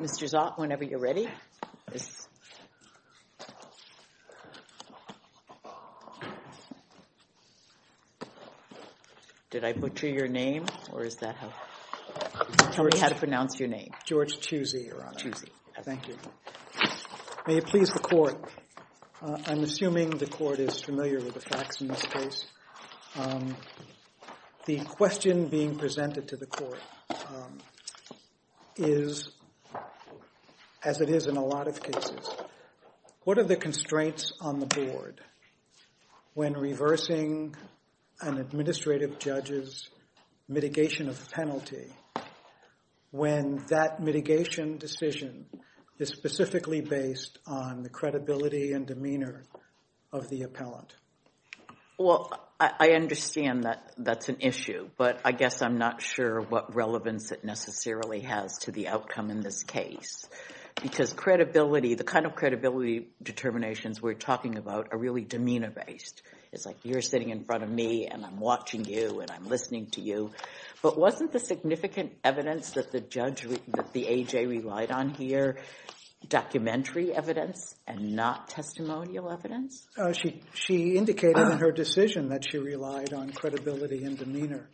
Mr. Zott, whenever you're ready. Did I butcher your name, or is that how we had to pronounce your name? George Chusey, Your Honor. Chusey. Thank you. May it please the Court, I'm assuming the Court is familiar with the facts in this case. The question being presented to the Court is, as it is in a lot of cases, what are the constraints on the Board when reversing an administrative judge's mitigation of penalty, when that mitigation decision is specifically based on the credibility and demeanor of the appellant? Well, I understand that that's an issue, but I guess I'm not sure what relevance it necessarily has to the outcome in this case, because credibility, the kind of credibility determinations we're talking about are really demeanor-based. It's like, you're sitting in front of me, and I'm watching you, and I'm listening to you. But wasn't the significant evidence that the judge, that the A.J. relied on here documentary evidence and not testimonial evidence? She indicated in her decision that she relied on credibility and demeanor.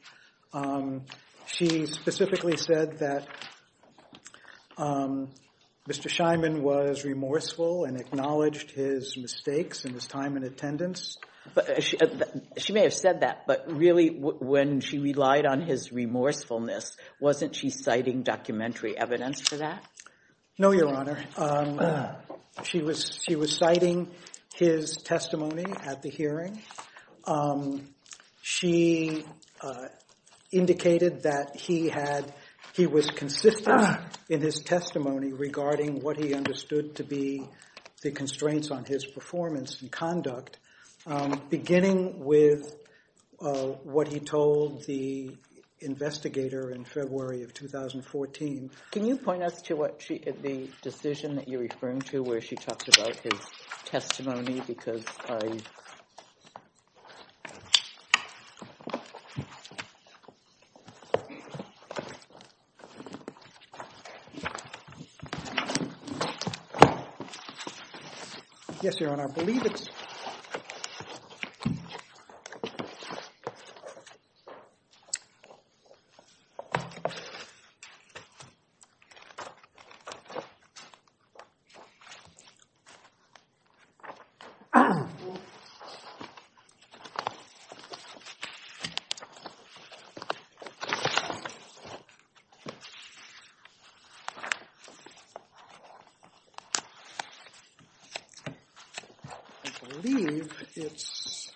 She specifically said that Mr. Scheinman was remorseful and acknowledged his mistakes in his time in attendance. She may have said that, but really, when she relied on his remorsefulness, wasn't she citing documentary evidence for that? No, Your Honor. She was citing his testimony at the hearing. She indicated that he was consistent in his testimony regarding what he understood to be the constraints on his performance and conduct, beginning with what he told the investigator in February of 2014. Can you point us to the decision that you're referring to, where she talks about his testimony? Because I... Yes, Your Honor. I believe it's... I believe it's...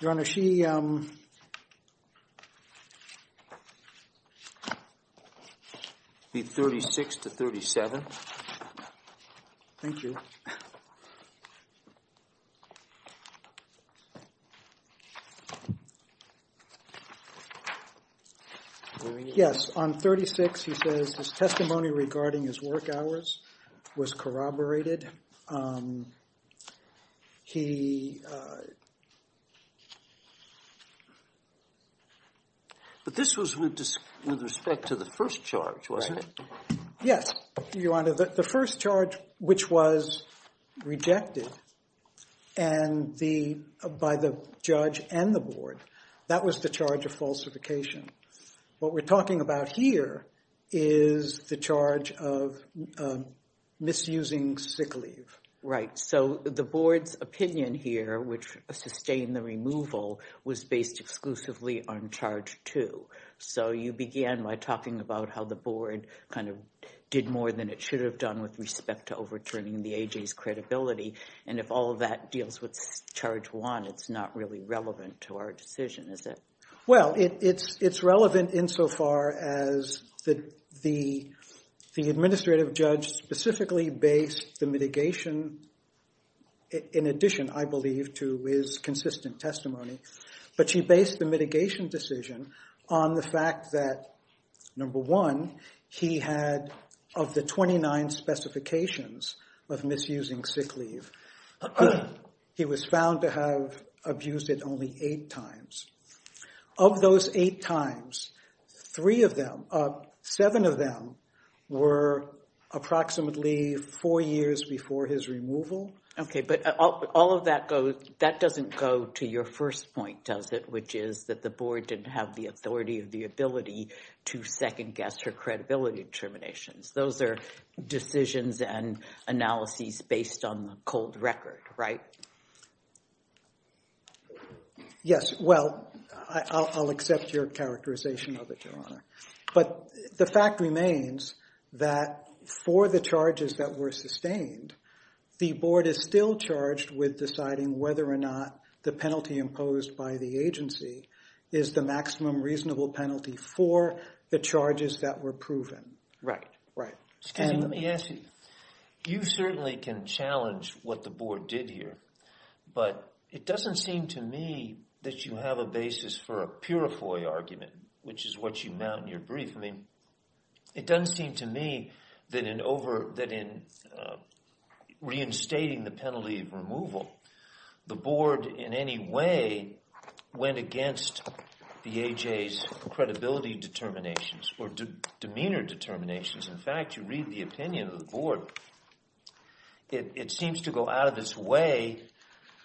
Your Honor, she, um... It'd be 36 to 37. Thank you. Yes, on 36, he says his testimony regarding his work hours was corroborated. He... But this was with respect to the first charge, wasn't it? Yes, Your Honor. The first charge, which was rejected by the judge and the board, that was the charge of falsification. What we're talking about here is the charge of misusing sick leave. Right. So, the board's opinion here, which sustained the removal, was based exclusively on charge two. So, you began by talking about how the board kind of did more than it should have done with respect to overturning the A.J.'s credibility. And if all of that deals with charge one, it's not really relevant to our decision, is it? Well, it's relevant insofar as the administrative judge specifically based the mitigation, in addition, I believe, to his consistent testimony. But he based the mitigation decision on the fact that, number one, he had, of the 29 specifications of misusing sick leave, he was found to have abused it only eight times. Of those eight times, three of them, seven of them, were approximately four years before his removal. Okay, but all of that doesn't go to your first point, does it, which is that the board didn't have the authority or the ability to second-guess her credibility determinations. Those are decisions and analyses based on the cold record, right? Yes, well, I'll accept your characterization of it, Your Honor. But the fact remains that for the charges that were sustained, the board is still charged with deciding whether or not the penalty imposed by the agency is the maximum reasonable penalty for the charges that were proven. Right. Right. Excuse me, let me ask you. You certainly can challenge what the board did here, but it doesn't seem to me that you have a basis for a purifoy argument, which is what you mount in your brief. I mean, it doesn't seem to me that in reinstating the penalty of removal, the board in any way went against the A.J.'s credibility determinations or demeanor determinations. In fact, you read the opinion of the board, it seems to go out of its way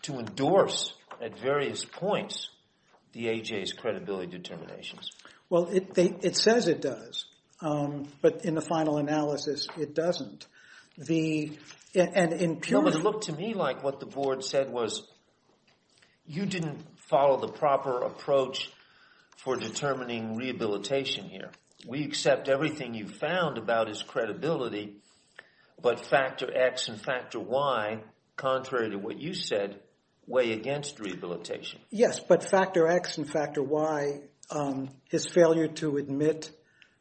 to endorse at the A.J.'s credibility determinations. Well, it says it does. But in the final analysis, it doesn't. And in pure... No, but it looked to me like what the board said was you didn't follow the proper approach for determining rehabilitation here. We accept everything you've found about his credibility, but Factor X and Factor Y, contrary to what you said, weigh against rehabilitation. Yes, but Factor X and Factor Y, his failure to admit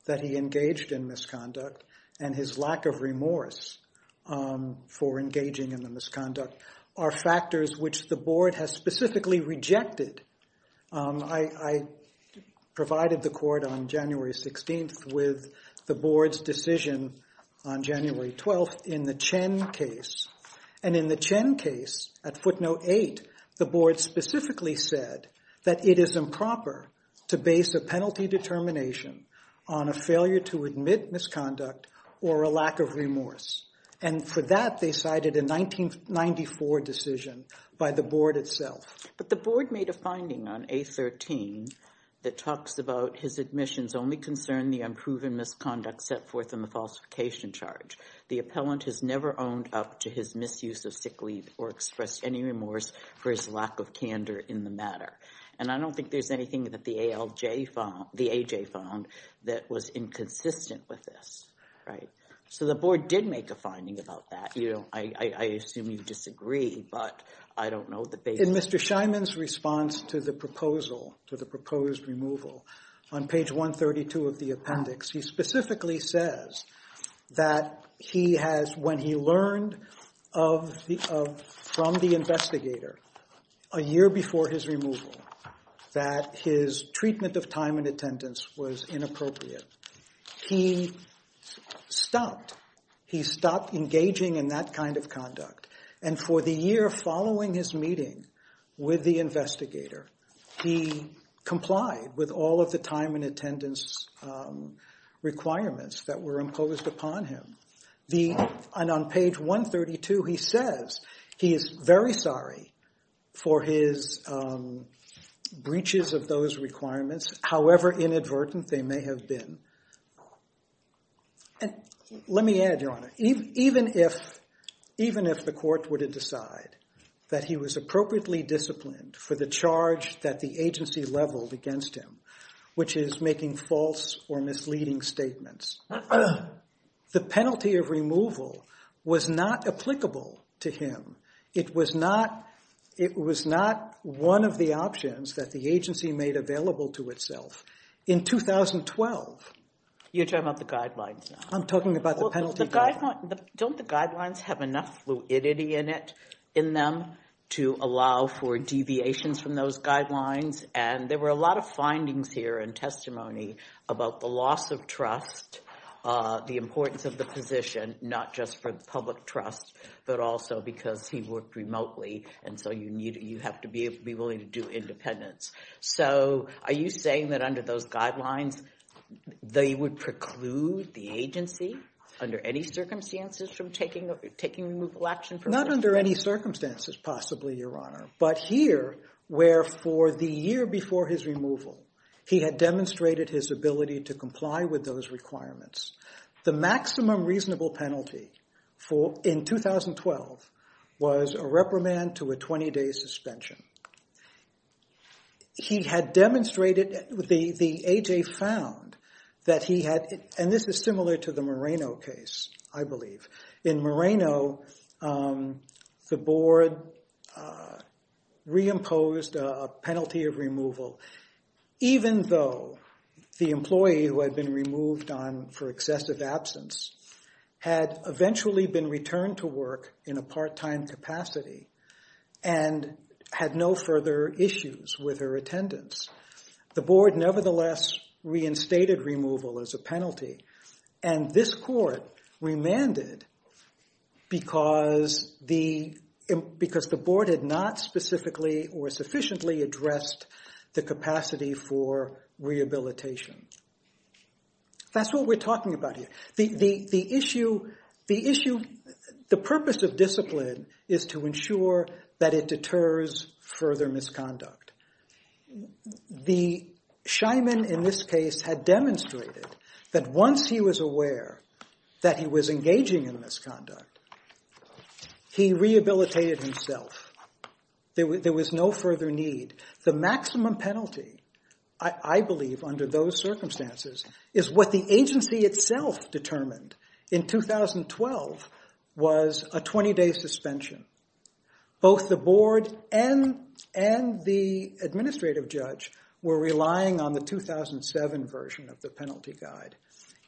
that he engaged in misconduct, and his lack of remorse for engaging in the misconduct, are factors which the board has specifically rejected. I provided the court on January 16th with the board's decision on January 12th in the Chen case. And in the Chen case, at footnote 8, the board specifically said that it is improper to base a penalty determination on a failure to admit misconduct or a lack of remorse. And for that, they cited a 1994 decision by the board itself. But the board made a finding on A13 that talks about his admissions only concern the unproven misconduct set forth in the falsification charge. The appellant has never owned up to his misuse of sick leave or expressed any remorse for his lack of candor in the matter. And I don't think there's anything that the ALJ found, the AJ found, that was inconsistent with this, right? So the board did make a finding about that. You know, I assume you disagree, but I don't know the basis. In Mr. Scheinman's response to the proposal, to the proposed removal, on page 132 of the appendix, he specifically says that he has, when he learned from the investigator a year before his removal, that his treatment of time and attendance was inappropriate, he stopped. He stopped engaging in that kind of conduct. And for the year following his meeting with the investigator, he complied with all of the time and attendance requirements that were imposed upon him. And on page 132, he says he is very sorry for his breaches of those requirements, however inadvertent they may have been. Let me add, Your Honor, even if the court were to decide that he was appropriately disciplined for the charge that the agency leveled against him, which is making false or misleading statements, the penalty of removal was not applicable to him. It was not one of the options that the agency made available to itself. In 2012... You're talking about the guidelines now. I'm talking about the penalty guidelines. Don't the guidelines have enough fluidity in them to allow for deviations from those guidelines? And there were a lot of findings here and testimony about the loss of trust, the importance of the position, not just for public trust, but also because he worked remotely, and so you have to be willing to do independence. So are you saying that under those guidelines, they would preclude the agency under any circumstances from taking removal action? Not under any circumstances, possibly, Your Honor, but here, where for the year before his removal, he had demonstrated his ability to comply with those requirements. The maximum reasonable penalty in 2012 was a reprimand to a 20-day suspension. He had demonstrated... The A.J. found that he had... And this is similar to the Moreno case, I believe. In Moreno, the board reimposed a penalty of removal, even though the employee who had been removed for excessive absence had eventually been returned to work in a part-time capacity and had no further issues with her attendance. The board nevertheless reinstated removal as a penalty, and this court remanded because the board had not specifically or sufficiently addressed the capacity for rehabilitation. That's what we're talking about here. The issue... The purpose of discipline is to ensure that it deters further misconduct. The Scheinman in this case had demonstrated that once he was aware that he was engaging in misconduct, he rehabilitated himself. There was no further need. The maximum penalty, I believe, under those circumstances, is what the agency itself determined in 2012 was a 20-day suspension. Both the board and the administrative judge were relying on the 2007 version of the penalty guide,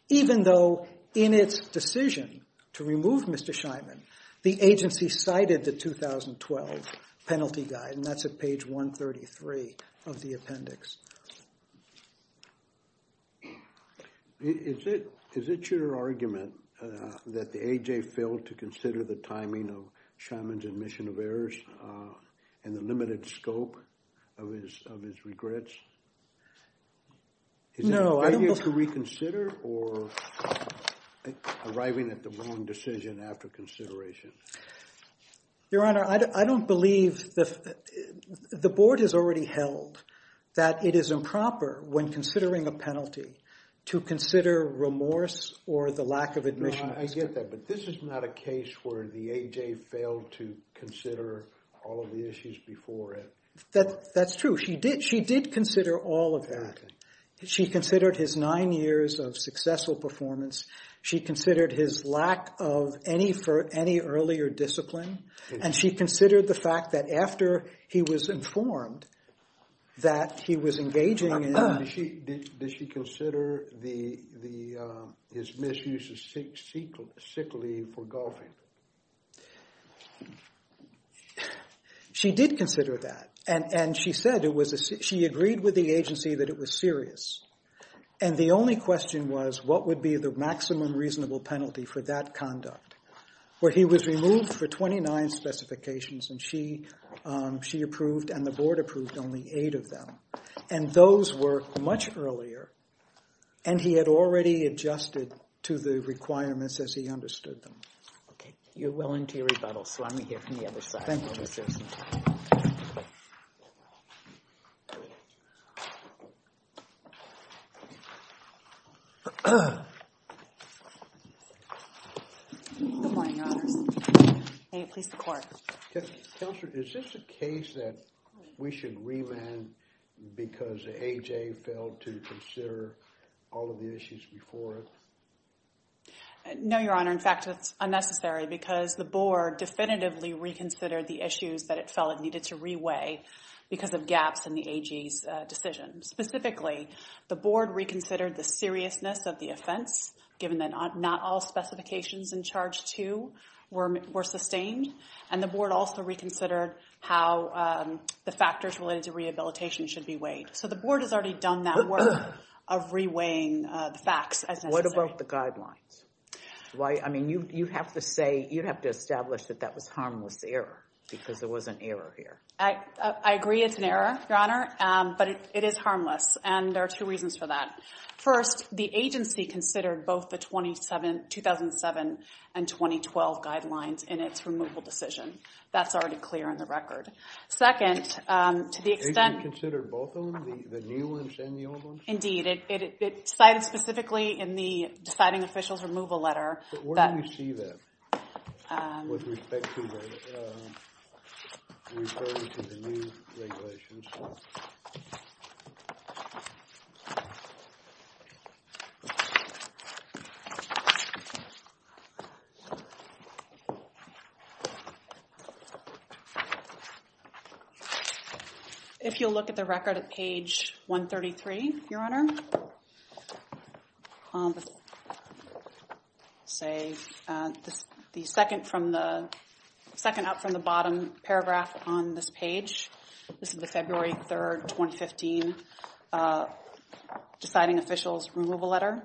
even though in its decision to remove Mr. Scheinman, the agency cited the 2012 penalty guide, and that's at page 133 of the appendix. Is it your argument that the A.J. failed to consider the timing of Scheinman's admission of errors and the limited scope of his regrets? No, I don't believe... Is it failure to reconsider or arriving at the wrong decision after consideration? Your Honor, I don't believe... The board has already held that it is the agency that is improper when considering a penalty to consider remorse or the lack of admission. I get that, but this is not a case where the A.J. failed to consider all of the issues before it. That's true. She did consider all of that. She considered his nine years of successful performance. She considered his lack of any earlier discipline, and she considered the fact that after he was informed that he was engaging in... Did she consider his misuse of sick leave for golfing? She did consider that, and she said it was... She agreed with the agency that it was serious, and the only question was what would be the maximum reasonable penalty for that conduct, where he was removed for 29 specifications, and she approved and the board approved only eight of them. And those were much earlier, and he had already adjusted to the requirements as he understood them. Okay, you're willing to rebuttal, so I'm going to hear from the other side. Thank you, Justice. Good morning, Your Honors. May it please the Court. Counselor, is this a case that we should remand because A.J. failed to consider all of the issues before it? No, Your Honor. In fact, it's unnecessary because the board definitively reconsidered the issues that it felt it needed to reweigh because of gaps in the A.J.'s decision. Specifically, the board reconsidered the seriousness of the offense, given that not all specifications in Charge 2 were sustained, and the board also reconsidered how the factors related to rehabilitation should be weighed. So the board has already done that work of reweighing the facts as necessary. What about the guidelines? I mean, you have to say, you have to establish that that was harmless error because there was an error here. I agree it's an error, Your Honor, but it is harmless, and there are two reasons for that. First, the agency considered both the 2007 and 2012 guidelines in its removal decision. That's already clear in the record. Second, to the extent... The agency considered both of them, the new ones and the old ones? Indeed. It cited specifically in the deciding officials removal letter that... But where do we see that with respect to the... referring to the new regulations? If you'll look at the record at page 133, Your Honor, say the second up from the bottom paragraph on this page, this is the February 3rd, 2015, If you look at the record at page 133, Your Honor, in the deciding officials removal letter,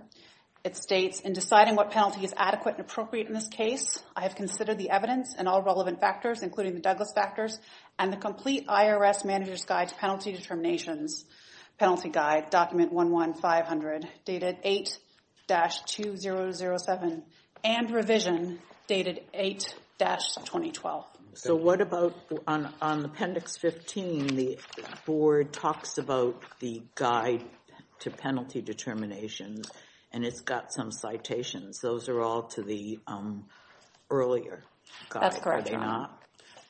it states, In deciding what penalty is adequate and appropriate in this case, I have considered the evidence and all relevant factors, including the Douglas factors, and the complete IRS Manager's Guide to Penalty Determinations Penalty Guide, document 11500, dated 8-2007, and revision dated 8-2012. So what about on appendix 15, the board talks about the Guide to Penalty Determinations, and it's got some citations. Those are all to the earlier guide, are they not? That's correct, Your Honor.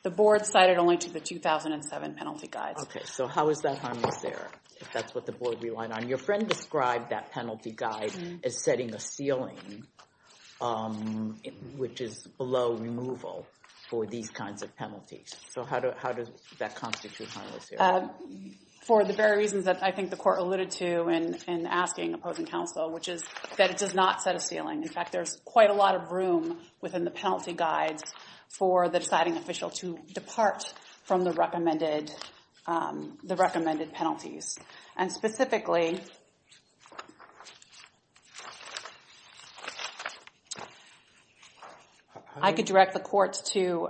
The board cited only to the 2007 penalty guide. Okay, so how is that harmless there, if that's what the board relied on? Your friend described that penalty guide as setting a ceiling, which is below removal for these kinds of penalties. So how does that constitute harmless there? For the very reasons that I think the court alluded to in asking opposing counsel, which is that it does not set a ceiling. In fact, there's quite a lot of room within the penalty guide for the deciding official to depart from the recommended penalties. And specifically, I could direct the courts to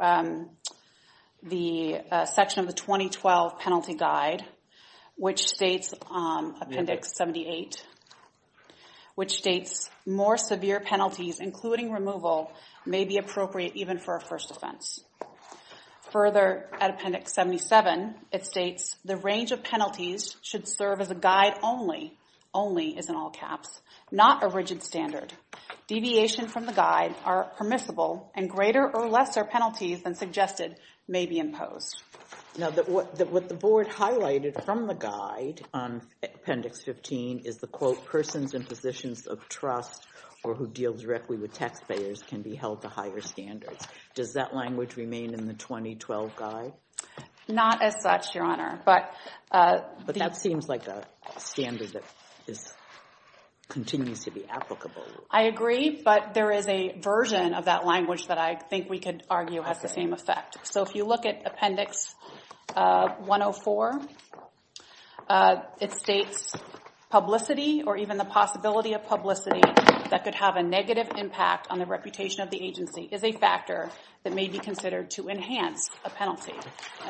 the section of the 2012 penalty guide, which states, appendix 78, which states, more severe penalties, including removal, may be appropriate even for a first offense. Further, at appendix 77, it states, the range of penalties should serve as a guide only only is in all caps, not a rigid standard. Deviation from the guide are permissible, and greater or lesser penalties than suggested may be imposed. Now, what the board highlighted from the guide on appendix 15 is the, quote, persons in positions of trust or who deal directly with taxpayers can be held to higher standards. Does that language remain in the 2012 guide? Not as such, Your Honor, but... continues to be applicable. I agree, but there is a version of that language that I think we could argue has the same effect. So if you look at appendix 104, it states, publicity or even the possibility of publicity that could have a negative impact on the reputation of the agency is a factor that may be considered to enhance a penalty.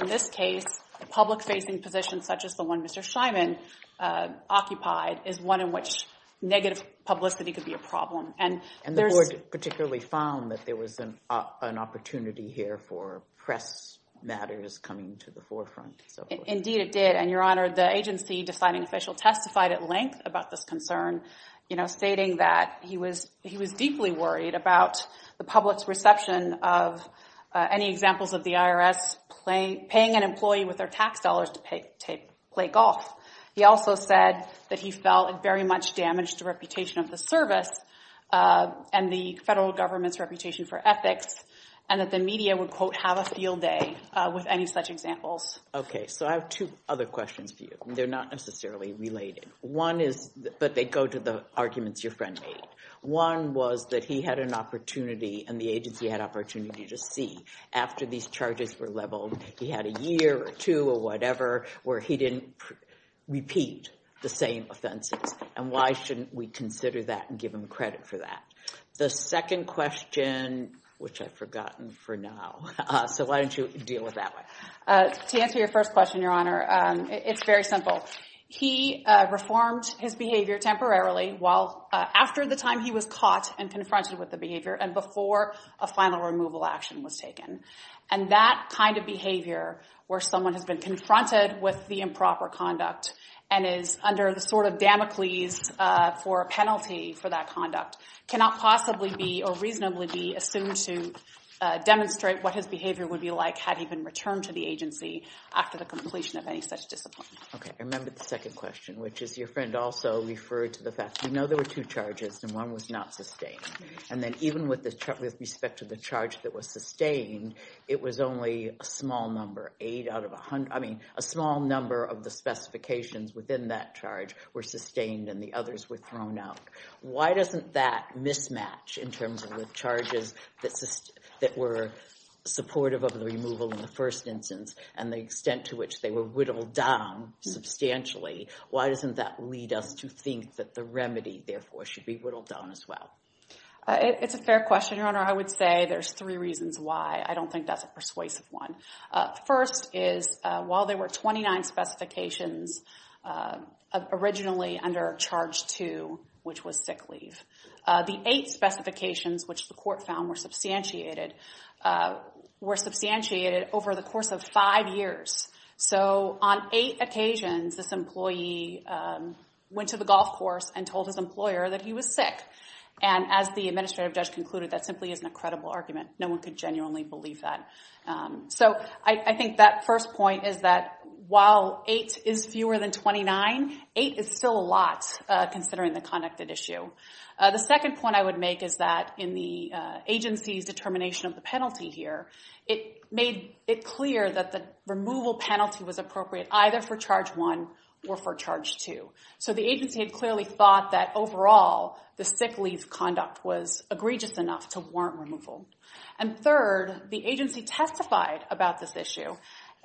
In this case, the public-facing position, such as the one Mr. Scheinman occupied, is one in which negative publicity could be a problem. And there's... And the board particularly found that there was an opportunity here for press matters coming to the forefront. Indeed, it did. And, Your Honor, the agency deciding official testified at length about this concern, you know, stating that he was deeply worried about the public's reception of any examples of the IRS paying an employee with their tax dollars to play golf. He also said that he felt it very much damaged the reputation of the service and the federal government's reputation for ethics, and that the media would, quote, have a field day with any such examples. Okay. So I have two other questions for you. They're not necessarily related. One is... But they go to the arguments your friend made. One was that he had an opportunity and the agency had opportunity to see after these charges were leveled, he had a year or two or whatever where he didn't repeat the same offenses. And why shouldn't we consider that and give him credit for that? The second question, which I've forgotten for now, so why don't you deal with that one? To answer your first question, Your Honor, it's very simple. He reformed his behavior temporarily while... After the time he was caught and confronted with the behavior and before a final removal action was taken. And that kind of behavior, where someone has been confronted with the improper conduct and is under the sort of Damocles for a penalty for that conduct, cannot possibly be or reasonably be assumed to demonstrate what his behavior would be like had he been returned to the agency after the completion of any such discipline. Okay. I remembered the second question, which is your friend also referred to the fact... We know there were two charges, and one was not sustained. And then even with respect to the charge that was sustained, it was only a small number. Eight out of a hundred... I mean, a small number of the specifications within that charge were sustained and the others were thrown out. Why doesn't that mismatch in terms of the charges that were supportive of the removal in the first instance and the extent to which they were whittled down substantially? Why doesn't that lead us to think that the remedy, therefore, should be whittled down as well? It's a fair question, Your Honor. I would say there's three reasons why. I don't think that's a persuasive one. First is, while there were 29 specifications originally under charge two, which was sick leave, the eight specifications which the court found were substantiated were substantiated over the course of five years. So on eight occasions, this employee went to the golf course and told his employer that he was sick. And as the administrative judge concluded, that simply isn't a credible argument. No one could genuinely believe that. So I think that first point is that while eight is fewer than 29, eight is still a lot considering the conduct at issue. The second point I would make is that in the agency's determination of the penalty here, it made it clear that the removal penalty was appropriate either for charge one or for charge two. So the agency had clearly thought that overall, the sick leave conduct was egregious enough to warrant removal. And third, the agency testified about this issue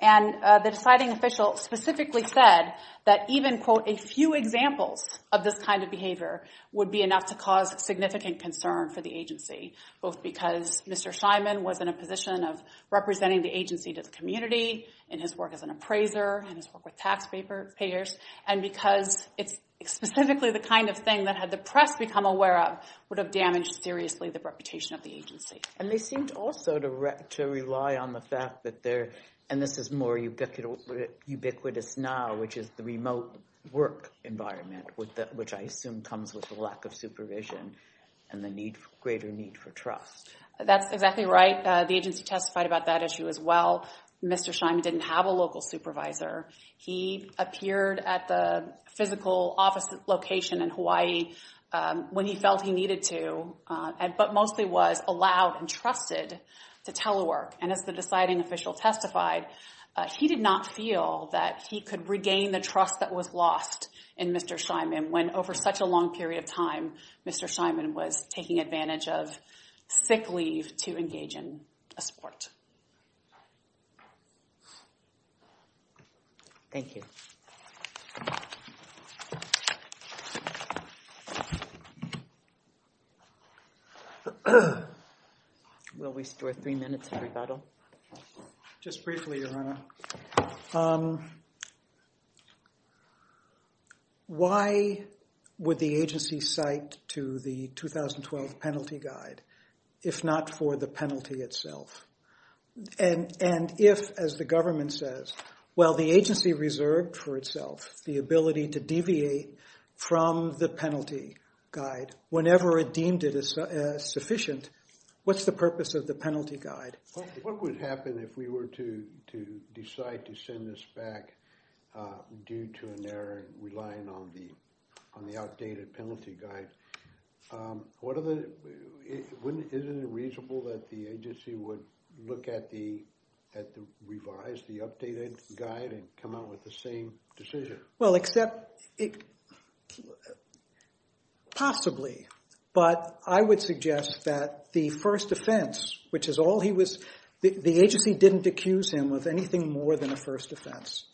and the deciding official specifically said that even quote, a few examples of this kind of behavior would be enough to cause significant concern for the agency. Both because Mr. Simon was in a position of representing the agency to the community in his work as an appraiser, in his work with tax payers and because it's specifically the kind of thing that had the press become aware of would have damaged seriously the reputation of the agency. And they seemed also to rely on the fact that there, and this is more ubiquitous now, which is the remote work environment which I assume comes with the lack of supervision and the greater need for trust. That's exactly right. The agency testified about that issue as well. Mr. Simon didn't have a local supervisor. He appeared at the physical office location in Hawaii when he felt he needed to but mostly was allowed and trusted to telework and as the deciding official testified he did not feel that he could regain the trust that was lost in Mr. Simon when over such a long period of time, Mr. Simon was taking advantage of sick leave to engage in a sport. Thank you. Will we store three minutes for rebuttal? Just briefly, Your Honor. Why would the agency cite to the 2012 penalty guide if not for the penalty itself? And if, as the government says, while the agency reserved for itself the ability to deviate from the penalty guide whenever it deemed it sufficient, what's the purpose of the penalty guide? What would happen if we were to decide to send this back due to an error relying on the outdated penalty guide? Isn't it reasonable that the agency would look at the revised, the updated guide and come out with the same decision? Well, except possibly. But I would suggest that the first offense, which is all he was the agency didn't accuse him of anything more than a first offense.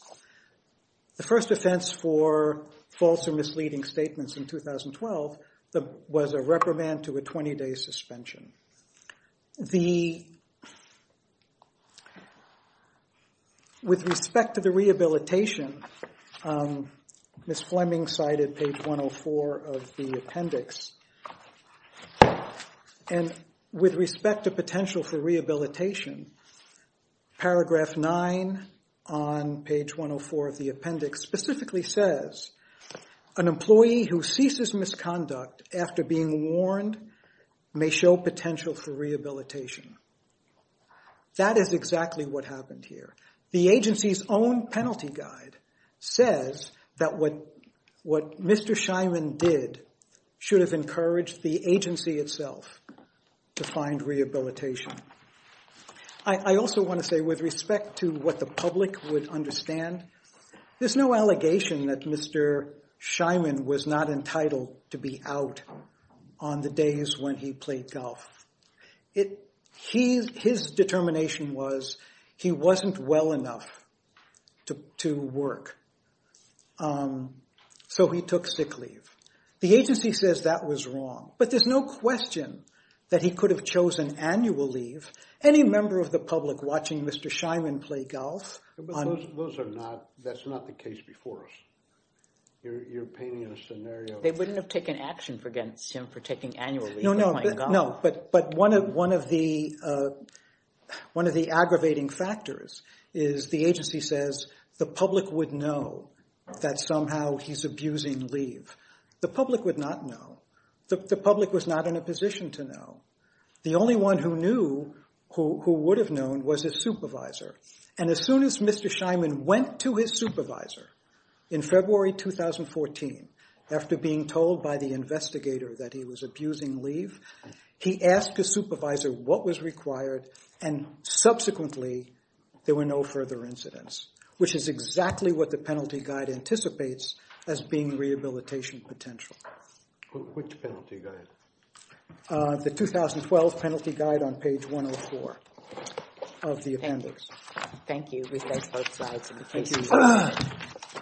The first offense for false or misleading statements in 2012 was a reprimand to a 20-day suspension. With respect to the rehabilitation, Ms. Fleming cited page 104 of the appendix. And with respect to potential for rehabilitation, paragraph 9 on page 104 of the appendix specifically says, an employee who ceases misconduct after being warned may show potential for rehabilitation. That is exactly what happened here. The agency's own penalty guide says that what Mr. Scheinman did should have encouraged the agency itself to find rehabilitation. I also want to say with respect to what the public would understand, there's no allegation that Mr. Scheinman was not entitled to be out on the days when he played golf. His determination was he wasn't well enough to work. So he took sick leave. The agency says that was wrong. But there's no question that he could have chosen annual leave. Any member of the public watching Mr. Scheinman play that's not the case before us. You're painting a scenario They wouldn't have taken action against him for taking annual leave. But one of the aggravating factors is the agency says the public would know that somehow he's abusing leave. The public would not know. The public was not in a position to know. The only one who knew, who would have known, was his supervisor. And as soon as Mr. Scheinman went to his supervisor in February 2014, after being told by the investigator that he was abusing leave, he asked his supervisor what was required and subsequently there were no further incidents. Which is exactly what the penalty guide anticipates as being rehabilitation potential. Which penalty guide? The 2012 penalty guide on page 104 of the appendix. Thank you. Thank you.